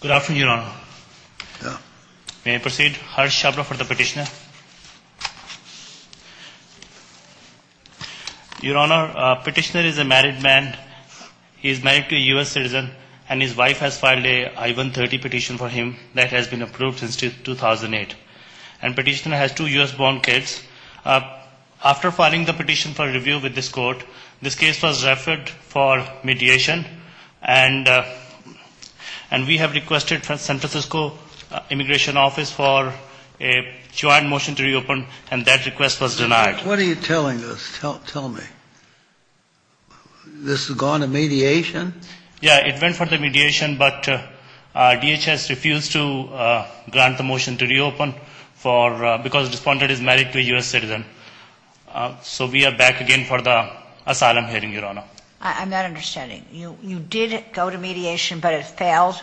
Good afternoon, Your Honor. May I proceed? Harsh Shabra for the petitioner. Your Honor, petitioner is a married man. He is married to a U.S. citizen and his wife has filed a I-130 petition for him that has been approved since 2008. And petitioner has two U.S.-born kids. After filing the petition for review with this court, this case was referred for mediation and we have requested from San Francisco Immigration Office for a joint motion to reopen and that request was denied. What are you telling us? Tell me. This has gone to mediation? Yeah, it went for the mediation, but DHS refused to grant the motion to reopen because the defendant is married to a U.S. citizen. So we are back again for the asylum hearing, Your Honor. I'm not understanding. You did go to mediation, but it failed?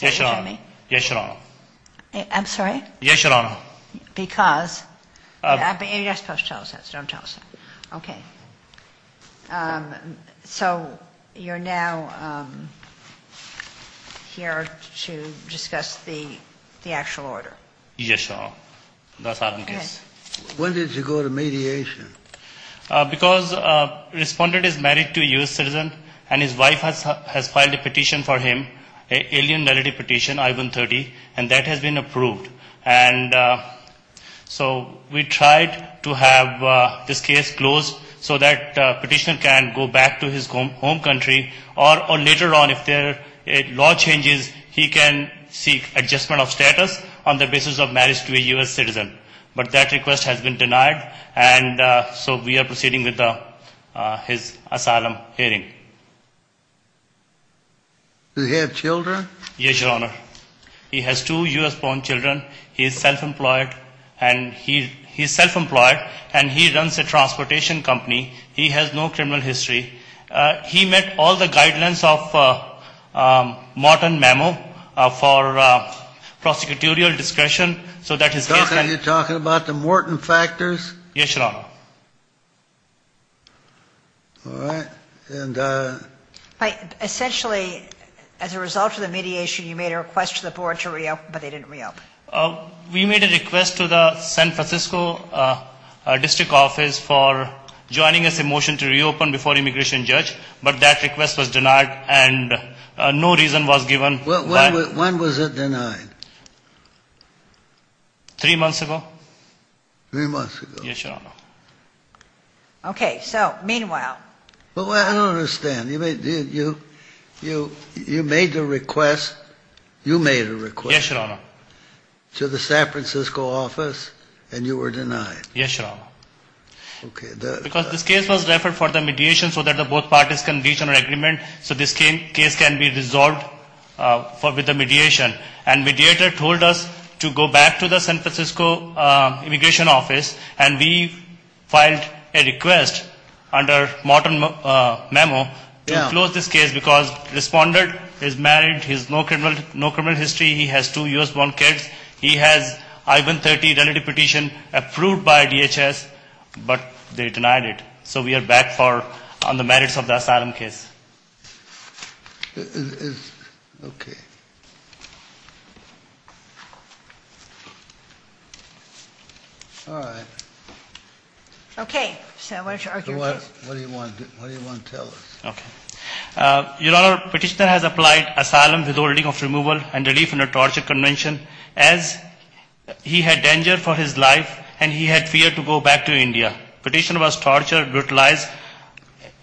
Yes, Your Honor. I'm sorry? Yes, Your Honor. Because? You're not supposed to tell us that. Don't tell us that. Okay. So you're now here to discuss the actual order? Yes, Your Honor. When did you go to mediation? Because the respondent is married to a U.S. citizen and his wife has filed a petition for him, an alien relative petition, I-130, and that has been approved. And so we tried to have this case closed so that petitioner can go back to his home country or later on if the law changes, he can seek adjustment of status on the basis of marriage to a U.S. citizen. But that request has been so we are proceeding with his asylum hearing. Does he have children? Yes, Your Honor. He has two U.S.-born children. He is self-employed and he is self-employed and he runs a transportation company. He has no criminal history. He met all the guidelines of Morton Memo for prosecutorial discretion so that his case- Are you talking about the Morton factors? Yes, Your Honor. All right. Essentially, as a result of the mediation, you made a request to the board to reopen, but they didn't reopen. We made a request to the San Francisco District Office for joining us a motion to reopen before immigration judge, but that request was denied and no reason was given. When was it denied? Three months ago. Three months ago? Yes, Your Honor. Okay, so meanwhile- Well, I don't understand. You made the request. You made a request- Yes, Your Honor. To the San Francisco office and you were denied. Yes, Your Honor. Okay. Because this case was referred for the mediation so that both parties can reach an agreement so this case can be resolved with the mediation. And mediator told us to go back to the San Francisco immigration office and we filed a request under Morton Memo to close this case because the responder is married. He has no criminal history. He has two U.S.-born kids. He has I-130 relative petition approved by DHS, but they denied it. So we are back for the merits of the asylum case. Okay. All right. Okay. So what do you want to tell us? Okay. Your Honor, petitioner has applied asylum withholding of removal and relief in a torture convention as he had danger for his life and he had fear to go back to India. Petitioner was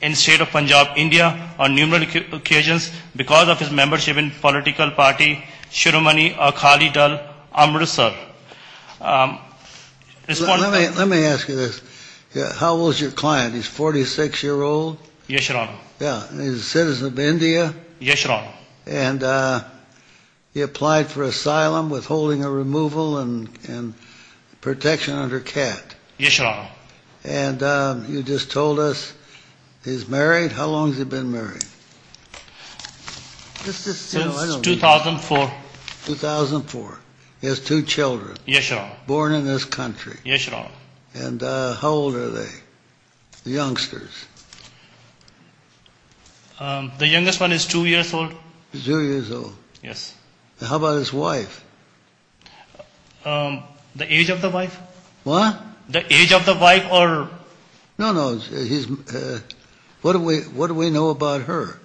in state of Punjab, India on numerous occasions because of his membership in political party Shurmani Akhali Dal Amritsar. Responder- Let me ask you this. How old is your client? He's 46-year-old? Yes, Your Honor. Yeah. He's a citizen of India? Yes, Your Honor. And he applied for asylum withholding of removal and protection under CAT? Yes, Your Honor. And you just told us he's married? How long has he been married? Since 2004. 2004. He has two children? Yes, Your Honor. Born in this country? Yes, Your Honor. And how old are they? Youngsters? The youngest one is two years old. Two years old? Yes. How about his wife? The age of the wife? What? The age of the wife or... No, no. What do we know about her?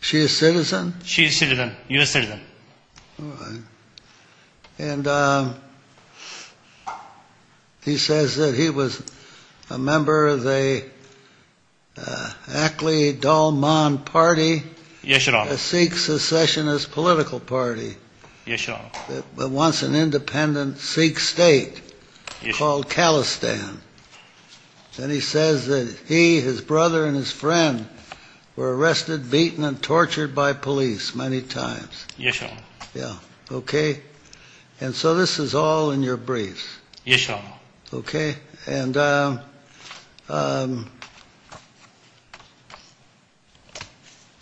She a citizen? She a citizen. You a citizen. All right. And he says that he was a member of the Akhali Dal Man party? Yes, Your Honor. A Sikh secessionist political party? Yes, Your Honor. But once an independent Sikh state called Khalistan. Then he says that he, his brother, and his friend were arrested, beaten, and tortured by police many times? Yes, Your Honor. Yeah. Okay. And so this is all in your briefs? Yes, Your Honor. Okay. And so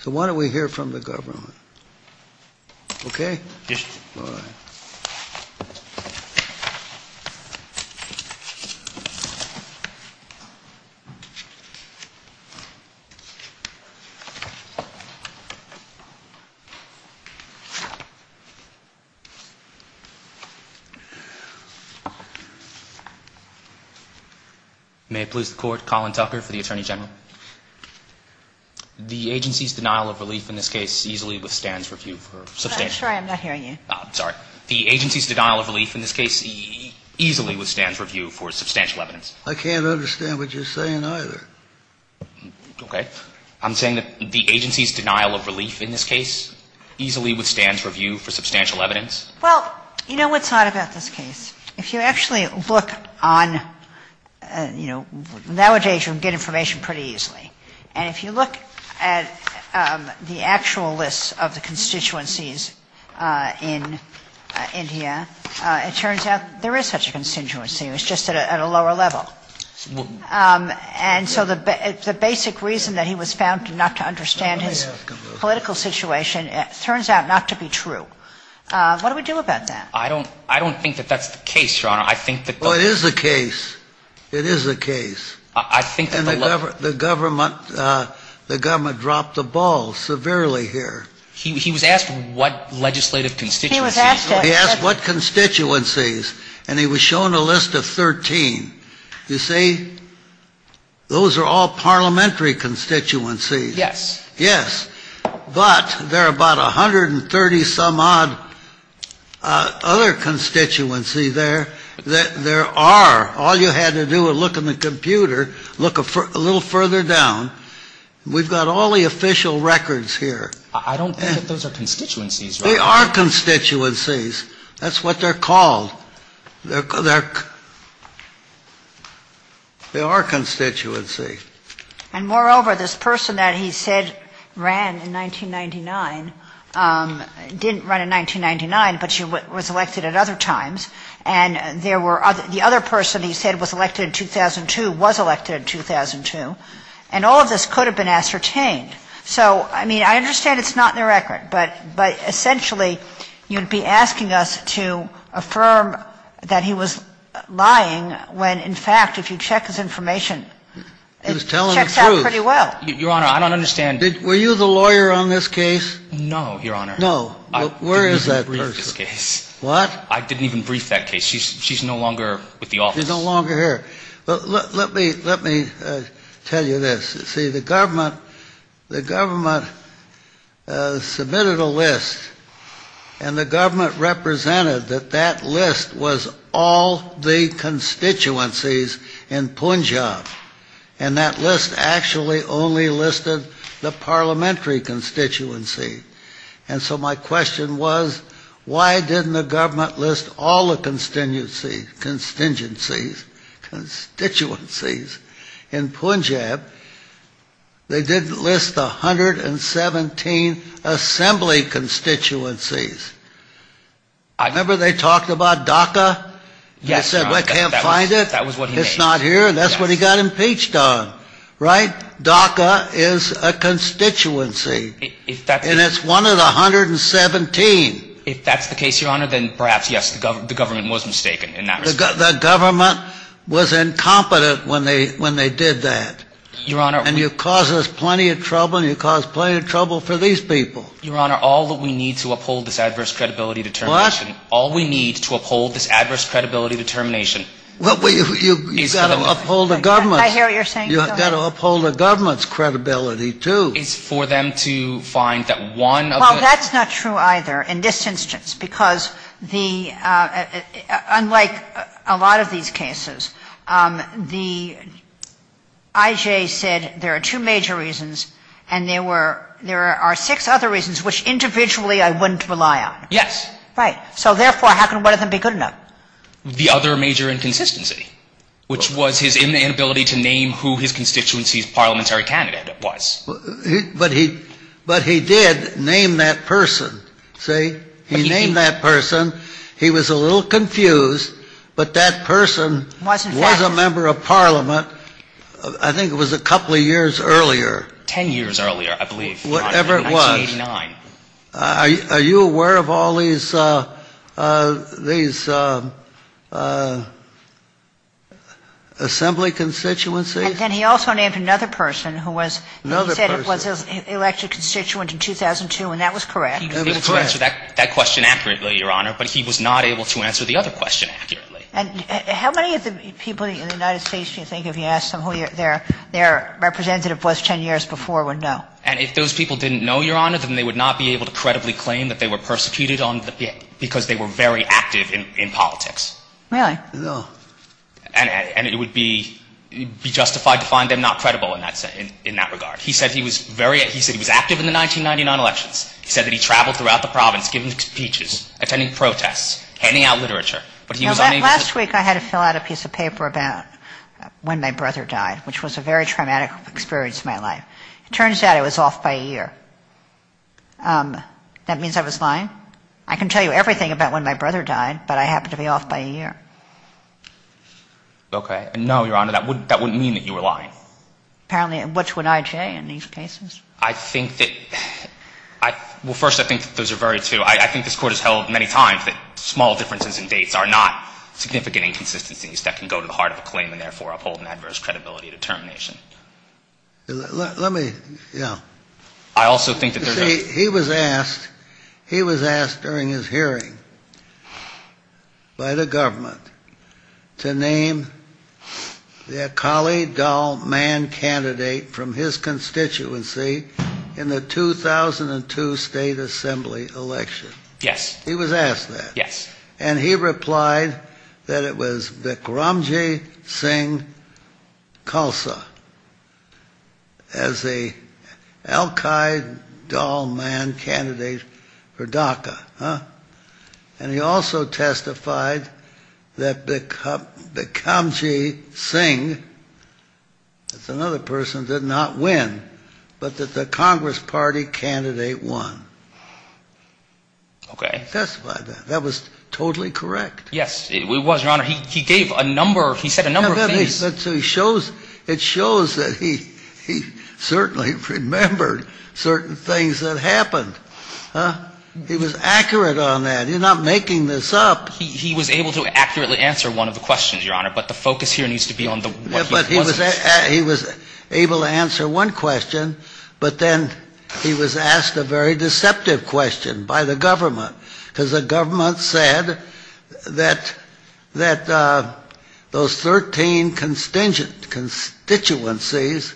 why don't we hear from the government? Okay? Yes, Your Honor. All right. May it please the Court, Colin Tucker for the Attorney General. The agency's denial of relief in this case easily withstands review for... Sorry, I'm not hearing you. Sorry. The agency's denial of relief in this case easily withstands review for substantial evidence? I can't understand what you're saying either. Okay. I'm saying that the agency's denial of relief in this case easily withstands review for substantial evidence? Well, you know what's odd about this case? If you actually look on, you know, nowadays you can get information pretty easily. And if you look at the actual lists of the constituencies in India, it turns out there is such a constituency. It's just at a lower level. And so the basic reason that he was found not to understand his political situation turns out not to be true. What do we do about that? I don't think that that's the case, Your Honor. I think that... Well, it is a case. It is a case. I think that the level... The government dropped the ball severely here. He was asked what legislative constituencies... He was asked... He asked what constituencies. And he was shown a list of 13. You see, those are all parliamentary constituencies. Yes. Yes. But there are about 130-some-odd other constituencies there that there are. All you had to do was look in the computer, look a little further down. We've got all the official records here. I don't think that those are constituencies, Your Honor. They are constituencies. That's what they're called. They are constituencies. And moreover, this person that he said ran in 1999, didn't run in 1999, but she was elected at other times, and the other person he said was elected in 2002 was elected in 2002, and all of this could have been ascertained. So, I mean, I understand it's not in the record, but essentially, you'd be asking us to affirm that he was lying when, in fact, if you check his information, it checks out pretty well. Your Honor, I don't understand... Were you the lawyer on this case? No, Your Honor. No. Where is that person? What? I didn't even brief that case. She's no longer with the office. She's no longer here. Let me tell you this. See, the government submitted a list, and the government represented that that list was all the constituencies in Punjab, and that list actually only listed the parliamentary constituency. And so my question was, why didn't the government list all the constituencies in Punjab? They didn't list the 117 assembly constituencies. I remember they talked about Dhaka. Yes, Your Honor. They said, I can't find it. That was what he said. It's not here, and that's what he got impeached on, right? Dhaka is a constituency, and it's one of the 117. If that's the case, Your Honor, then perhaps, yes, the government was mistaken in that respect. The government was incompetent when they did that. And you cause us plenty of trouble, and you cause plenty of trouble for these people. Your Honor, all that we need to uphold this adverse credibility determination... What? All we need to uphold this adverse credibility determination... Well, you've got to uphold the government. I hear what you're saying. You've got to uphold the government's credibility, too. It's for them to find that one of the... Well, that's not true either in this instance, because unlike a lot of these cases, I.J. said there are two major reasons, and there are six other reasons, which individually I wouldn't rely on. Yes. Right. So therefore, how can one of them be good enough? The other major inconsistency, which was his inability to name who his constituency's parliamentary candidate was. But he did name that person, see? He named that person. He was a little confused, but that person was a member of parliament, I think it was a couple of years earlier. Ten years earlier, I believe. Whatever it was. 1989. Are you aware of all these assembly constituencies? And then he also named another person who said he was an elected constituent in 2002, and that was correct. He was able to answer that question accurately, Your Honor, but he was not able to answer the other question accurately. And how many of the people in the United States do you think, if you ask them who their representative was ten years before, would know? And if those people didn't know, Your Honor, then they would not be able to credibly claim that they were persecuted because they were very active in politics. Really? And it would be justified to find them not credible in that regard. He said he was active in the 1999 elections. He said that he traveled throughout the province giving speeches, attending protests, handing out literature, but he was unable to... Last week, I had to fill out a piece of paper about when my brother died, which was a very traumatic experience in my life. It turns out I was off by a year. That means I was lying. I can tell you everything about when my brother died, but I happened to be off by a year. Okay. No, Your Honor, that wouldn't mean that you were lying. Apparently, and which would I say in these cases? I think that... Well, first, I think those are very true. I think this Court has held many times that small differences in dates are not significant inconsistencies that can go to the heart of a claim and therefore uphold an adverse credibility determination. Let me, yeah. I also think that there's a... He was asked, he was asked during his hearing by the government to name the Akali Dal Mann candidate from his constituency in the 2002 State Assembly election. Yes. He was asked that. Yes. And he replied that it was Vikramji Singh Khalsa as a Al-Qaeda Dal Mann candidate for DACA. And he also testified that Vikramji Singh, that's another person, did not win, but that the Congress Party candidate won. Okay. Testify that. That was totally correct. Yes, it was, Your Honor. He gave a number, he said a number of things. It shows that he certainly remembered certain things that happened. He was accurate on that. You're not making this up. He was able to accurately answer one of the questions, Your Honor, but the focus here needs to be on what he wasn't. He was able to answer one question, but then he was asked a very deceptive question by the government, because the government said that those 13 constituencies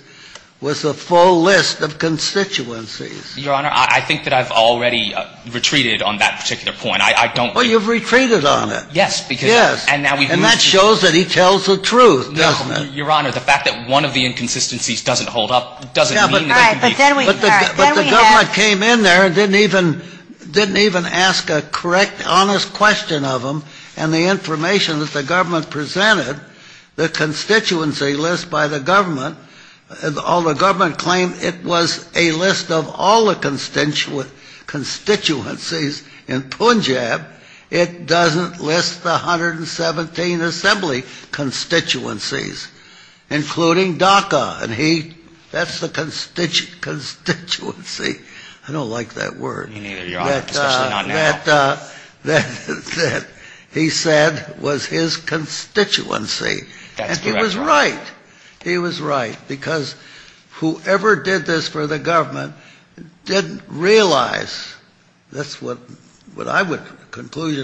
was the full list of constituencies. Your Honor, I think that I've already retreated on that particular point. I don't think... Well, you've retreated on it. Yes, because... Yes. And that shows that he tells the truth, doesn't it? Your Honor, the fact that one of the inconsistencies doesn't hold up doesn't mean... But the government came in there and didn't even ask a correct, honest question of him, and the information that the government presented, the constituency list by the government, although the government claimed it was a list of all the constituencies in Punjab, it doesn't list the 117 assembly constituencies, including Dhaka. And he... That's the constituency. I don't like that word. Me neither, Your Honor, especially not now. That he said was his constituency. That's correct, Your Honor. And he was right. He was right, because whoever did this for the government didn't realize, that's what I would... That's probably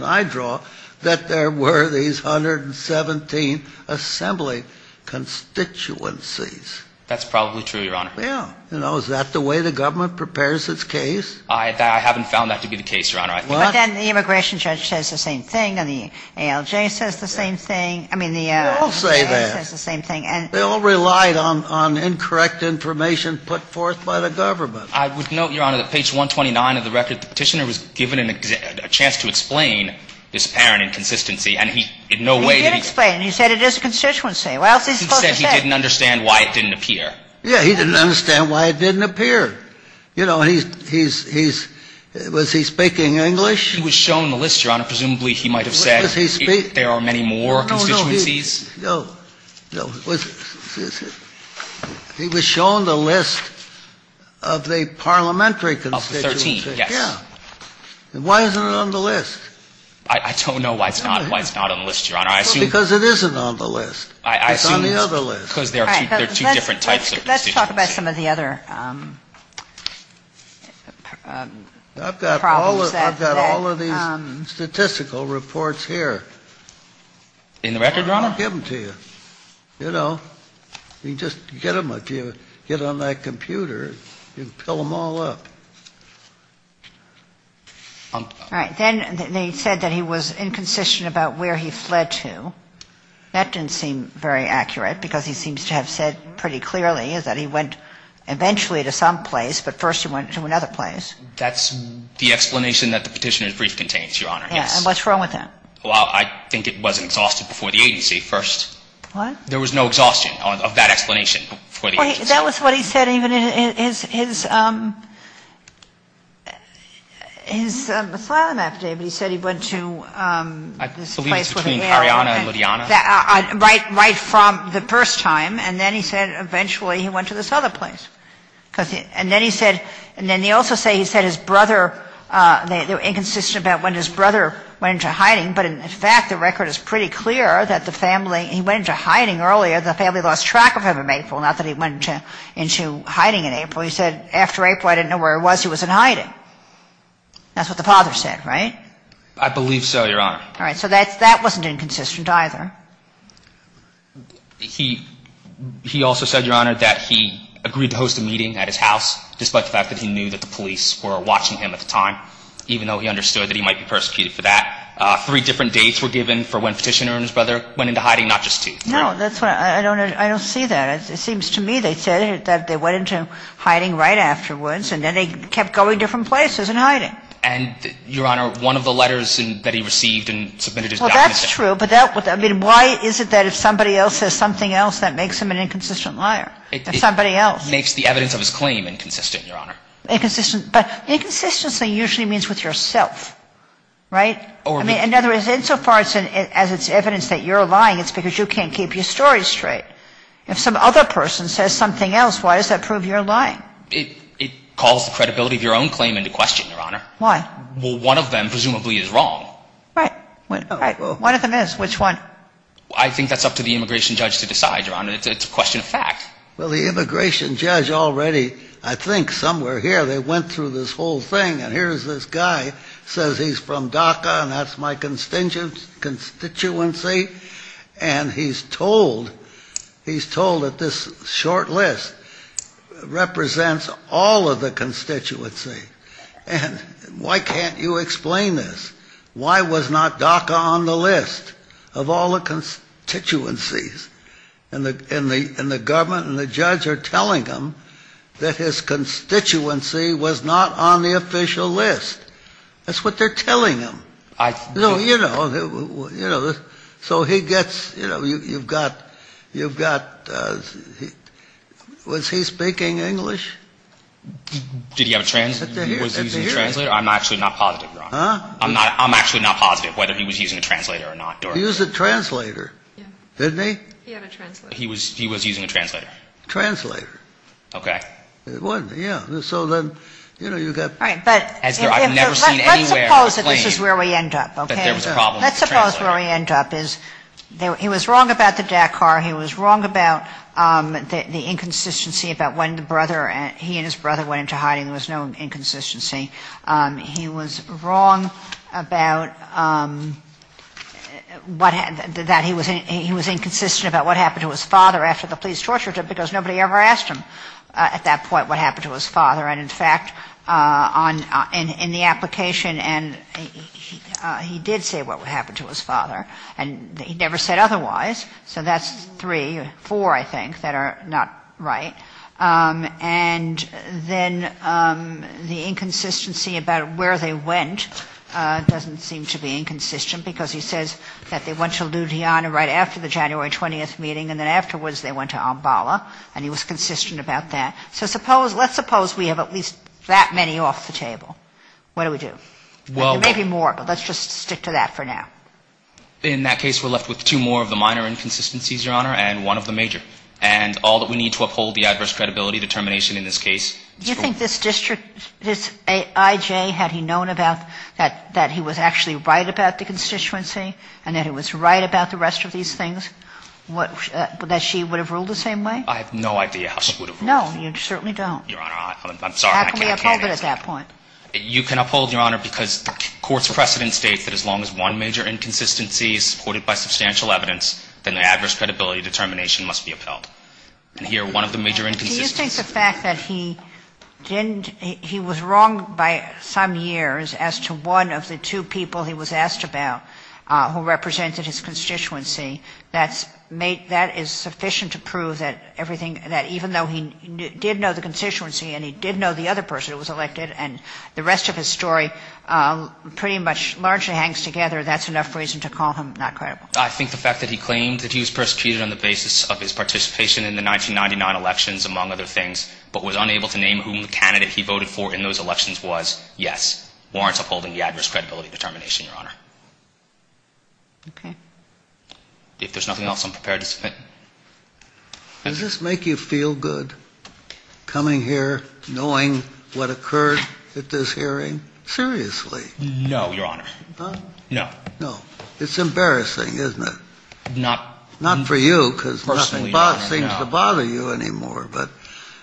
true, Your Honor. Yeah. You know, is that the way the government prepares its case? I haven't found that to be the case, Your Honor. But then the immigration judge says the same thing, and the ALJ says the same thing. I mean, the... They all say that. ...says the same thing. And... They all relied on incorrect information put forth by the government. I would note, Your Honor, that page 129 of the record, the petitioner was given a chance to explain this apparent inconsistency, and he in no way... He did explain. He said it is a constituency. What else is he supposed to say? He said he didn't understand why it didn't appear. Yeah, he didn't understand why it didn't appear. You know, he's, he's, he's... Was he speaking English? He was shown the list, Your Honor. Presumably, he might have said... What does he speak? ...there are many more constituencies. No, no, no. He was shown the list of the parliamentary constituencies. Of the 13, yes. Yeah. And why isn't it on the list? I don't know why it's not, why it's not on the list, Your Honor. I assume... Because it isn't on the list. It's on the other list. Because there are two, there are two different types of constituencies. Let's talk about some of the other... I've got all, I've got all of these statistical reports here. In the record, Your Honor? I'll give them to you. You know, you just get them, if you get on that computer, you can fill them all up. All right, then they said that he was inconsistent about where he fled to. That didn't seem very accurate, because he seems to have said pretty clearly is that he went eventually to some place, but first he went to another place. That's the explanation that the petitioner's brief contains, Your Honor. Yes. And what's wrong with that? Well, I think it wasn't exhausted before the agency first. What? There was no exhaustion of that explanation before the agency. That was what he said even in his asylum affidavit. He said he went to... I believe it's between Ariana and Ludiana. Right from the first time, and then he said eventually he went to this other place. And then he said, and then they also say he said his brother, they were inconsistent about when his brother went into hiding. But in fact, the record is pretty clear that the family, he went into hiding earlier. The family lost track of him in April, not that he went into hiding in April. He said, after April, I didn't know where he was. He was in hiding. That's what the father said, right? I believe so, Your Honor. All right. So that wasn't inconsistent either. He also said, Your Honor, that he agreed to host a meeting at his house, despite the fact that he knew that the police were watching him at the time, even though he understood that he might be persecuted for that. Three different dates were given for when petitioner and his brother went into hiding, not just two. No, that's what I don't see that. It seems to me they said that they went into hiding right afterwards, and then they kept going different places and hiding. And, Your Honor, one of the letters that he received and submitted his documents. Well, that's true. But I mean, why is it that if somebody else says something else, that makes him an inconsistent liar? If somebody else. Makes the evidence of his claim inconsistent, Your Honor. Inconsistent. But inconsistency usually means with yourself, right? I mean, in other words, insofar as it's evidence that you're lying, it's because you can't keep your story straight. If some other person says something else, why does that prove you're lying? It calls the credibility of your own claim into question, Your Honor. Why? Well, one of them presumably is wrong. Right. One of them is. Which one? I think that's up to the immigration judge to decide, Your Honor. It's a question of fact. Well, the immigration judge already, I think somewhere here, they went through this whole thing. And here's this guy says he's from DACA, and that's my constituency. And he's told, he's told that this short list represents all of the constituency. And why can't you explain this? Why was not DACA on the list of all the constituencies? And the government and the judge are telling him that his constituency was not on the official list. That's what they're telling him. I think. You know, so he gets, you know, you've got, you've got, was he speaking English? Did he have a translator? I'm actually not positive, Your Honor. I'm not, I'm actually not positive whether he was using a translator or not. He used a translator. Didn't he? He had a translator. He was, he was using a translator. Translator. Okay. It wasn't, yeah. So then, you know, you've got. All right. But. As I've never seen anywhere. Let's suppose that this is where we end up. Okay. There was a problem. Let's suppose where we end up is he was wrong about the DACA. He was wrong about the inconsistency about when the brother, he and his brother went into hiding. There was no inconsistency. He was wrong about that he was inconsistent about what happened to his father after the police tortured him because nobody ever asked him at that point what happened to his father. And in fact, in the application, he did say what happened to his father. And he never said otherwise. So that's three, four, I think that are not right. And then the inconsistency about where they went doesn't seem to be inconsistent because he says that they went to Ludhiana right after the January 20th meeting. And then afterwards they went to Ambala and he was consistent about that. So suppose let's suppose we have at least that many off the table. What do we do? Well, maybe more, but let's just stick to that for now. In that case, we're left with two more of the minor inconsistencies, Your Honor, and one of the major. And all that we need to uphold the adverse credibility determination in this case. Do you think this district, this IJ, had he known about that he was actually right about the constituency and that he was right about the rest of these things, that she would have ruled the same way? I have no idea how she would have ruled. No, you certainly don't. Your Honor, I'm sorry. How can we uphold it at that point? You can uphold, Your Honor, because court's precedent states that as long as one major inconsistency is supported by substantial evidence, then the adverse credibility determination must be upheld. And here, one of the major inconsistencies. Do you think the fact that he didn't, he was wrong by some years as to one of the two people he was asked about who represented his constituency, that's made, that is sufficient to prove that everything, that even though he did know the constituency and he did know the other person who was elected and the rest of his story pretty much largely hangs together, that's enough reason to call him not credible? I think the fact that he claimed that he was persecuted on the basis of his participation in the 1999 elections, among other things, but was unable to name whom the candidate he voted for in those elections was, yes, warrants upholding the adverse credibility determination, Your Honor. Okay. If there's nothing else, I'm prepared to submit. Does this make you feel good, coming here, knowing what occurred at this hearing? Seriously? No, Your Honor. No. No. It's embarrassing, isn't it? Not. Not for you, because nothing seems to bother you anymore, but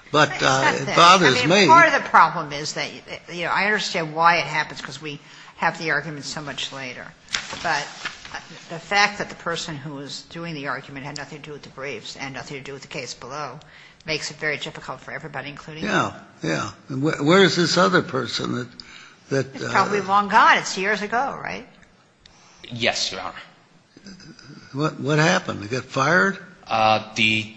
it bothers me. I mean, part of the problem is that, you know, I understand why it happens, because we have the argument so much later. But the fact that the person who was doing the argument had nothing to do with the briefs and nothing to do with the case below makes it very difficult for everybody, including you. Yeah. Yeah. Where is this other person? He's probably long gone. It's years ago, right? Yes, Your Honor. What happened? Did he get fired? The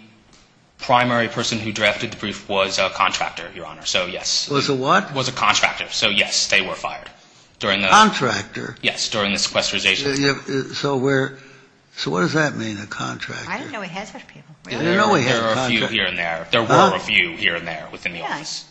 primary person who drafted the brief was a contractor, Your Honor. So, yes. Was a what? Was a contractor. So, yes, they were fired during the... Contractor? Yes, during the sequesterization. So where... So what does that mean, a contractor? I didn't know we had such people. I didn't know we had contractors. There are a few here and there. There were a few here and there within the office.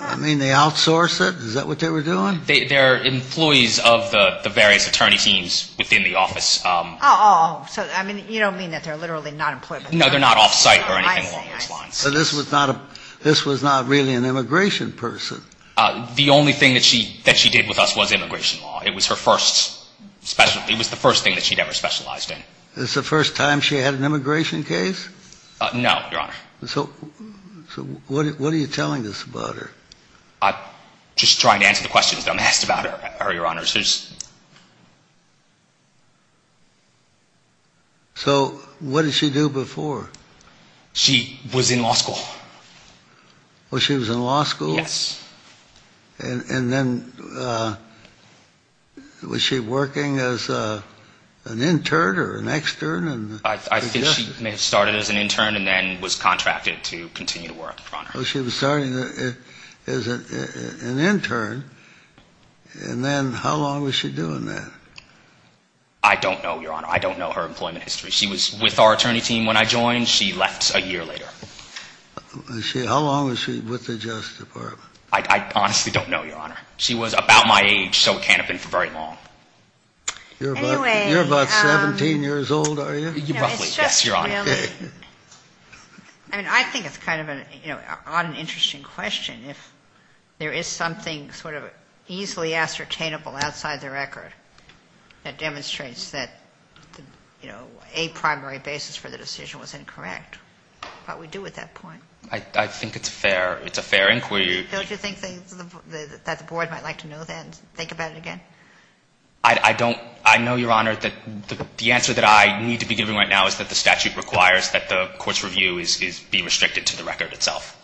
I mean, they outsource it? Is that what they were doing? They're employees of the various attorney teams within the office. Oh, so, I mean, you don't mean that they're literally not employed? No, they're not off-site or anything along those lines. So this was not a... This was not really an immigration person? The only thing that she did with us was immigration law. It was her first special... It was the first thing that she'd ever specialized in. It's the first time she had an immigration case? No, Your Honor. So what are you telling us about her? I'm just trying to answer the questions that I'm asked about her, Your Honor. So what did she do before? She was in law school. Oh, she was in law school? Yes. And then was she working as an intern or an extern? I think she started as an intern and then was contracted to continue to work, Your Honor. She was starting as an intern, and then how long was she doing that? I don't know, Your Honor. I don't know her employment history. She was with our attorney team when I joined. She left a year later. How long was she with the Justice Department? I honestly don't know, Your Honor. She was about my age, so it can't have been for very long. You're about 17 years old, are you? You're probably, yes, Your Honor. I mean, I think it's kind of an odd and interesting question. If there is something sort of easily ascertainable outside the record that demonstrates that, you know, a primary basis for the decision was incorrect, what would we do with that point? I think it's fair. It's a fair inquiry. Don't you think that the Board might like to know that and think about it again? I don't. I know, Your Honor, that the answer that I need to be giving right now is that the statute requires that the court's review be restricted to the record itself.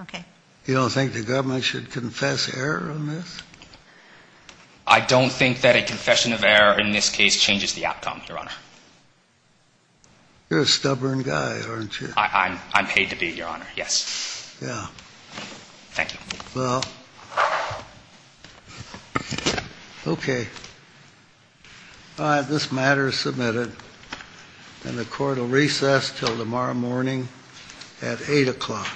Okay. You don't think the government should confess error on this? I don't think that a confession of error in this case changes the outcome, Your Honor. You're a stubborn guy, aren't you? I'm paid to be, Your Honor, yes. Yeah. Thank you. Well, okay. All right. This matter is submitted, and the court will recess till tomorrow morning at 8 o'clock.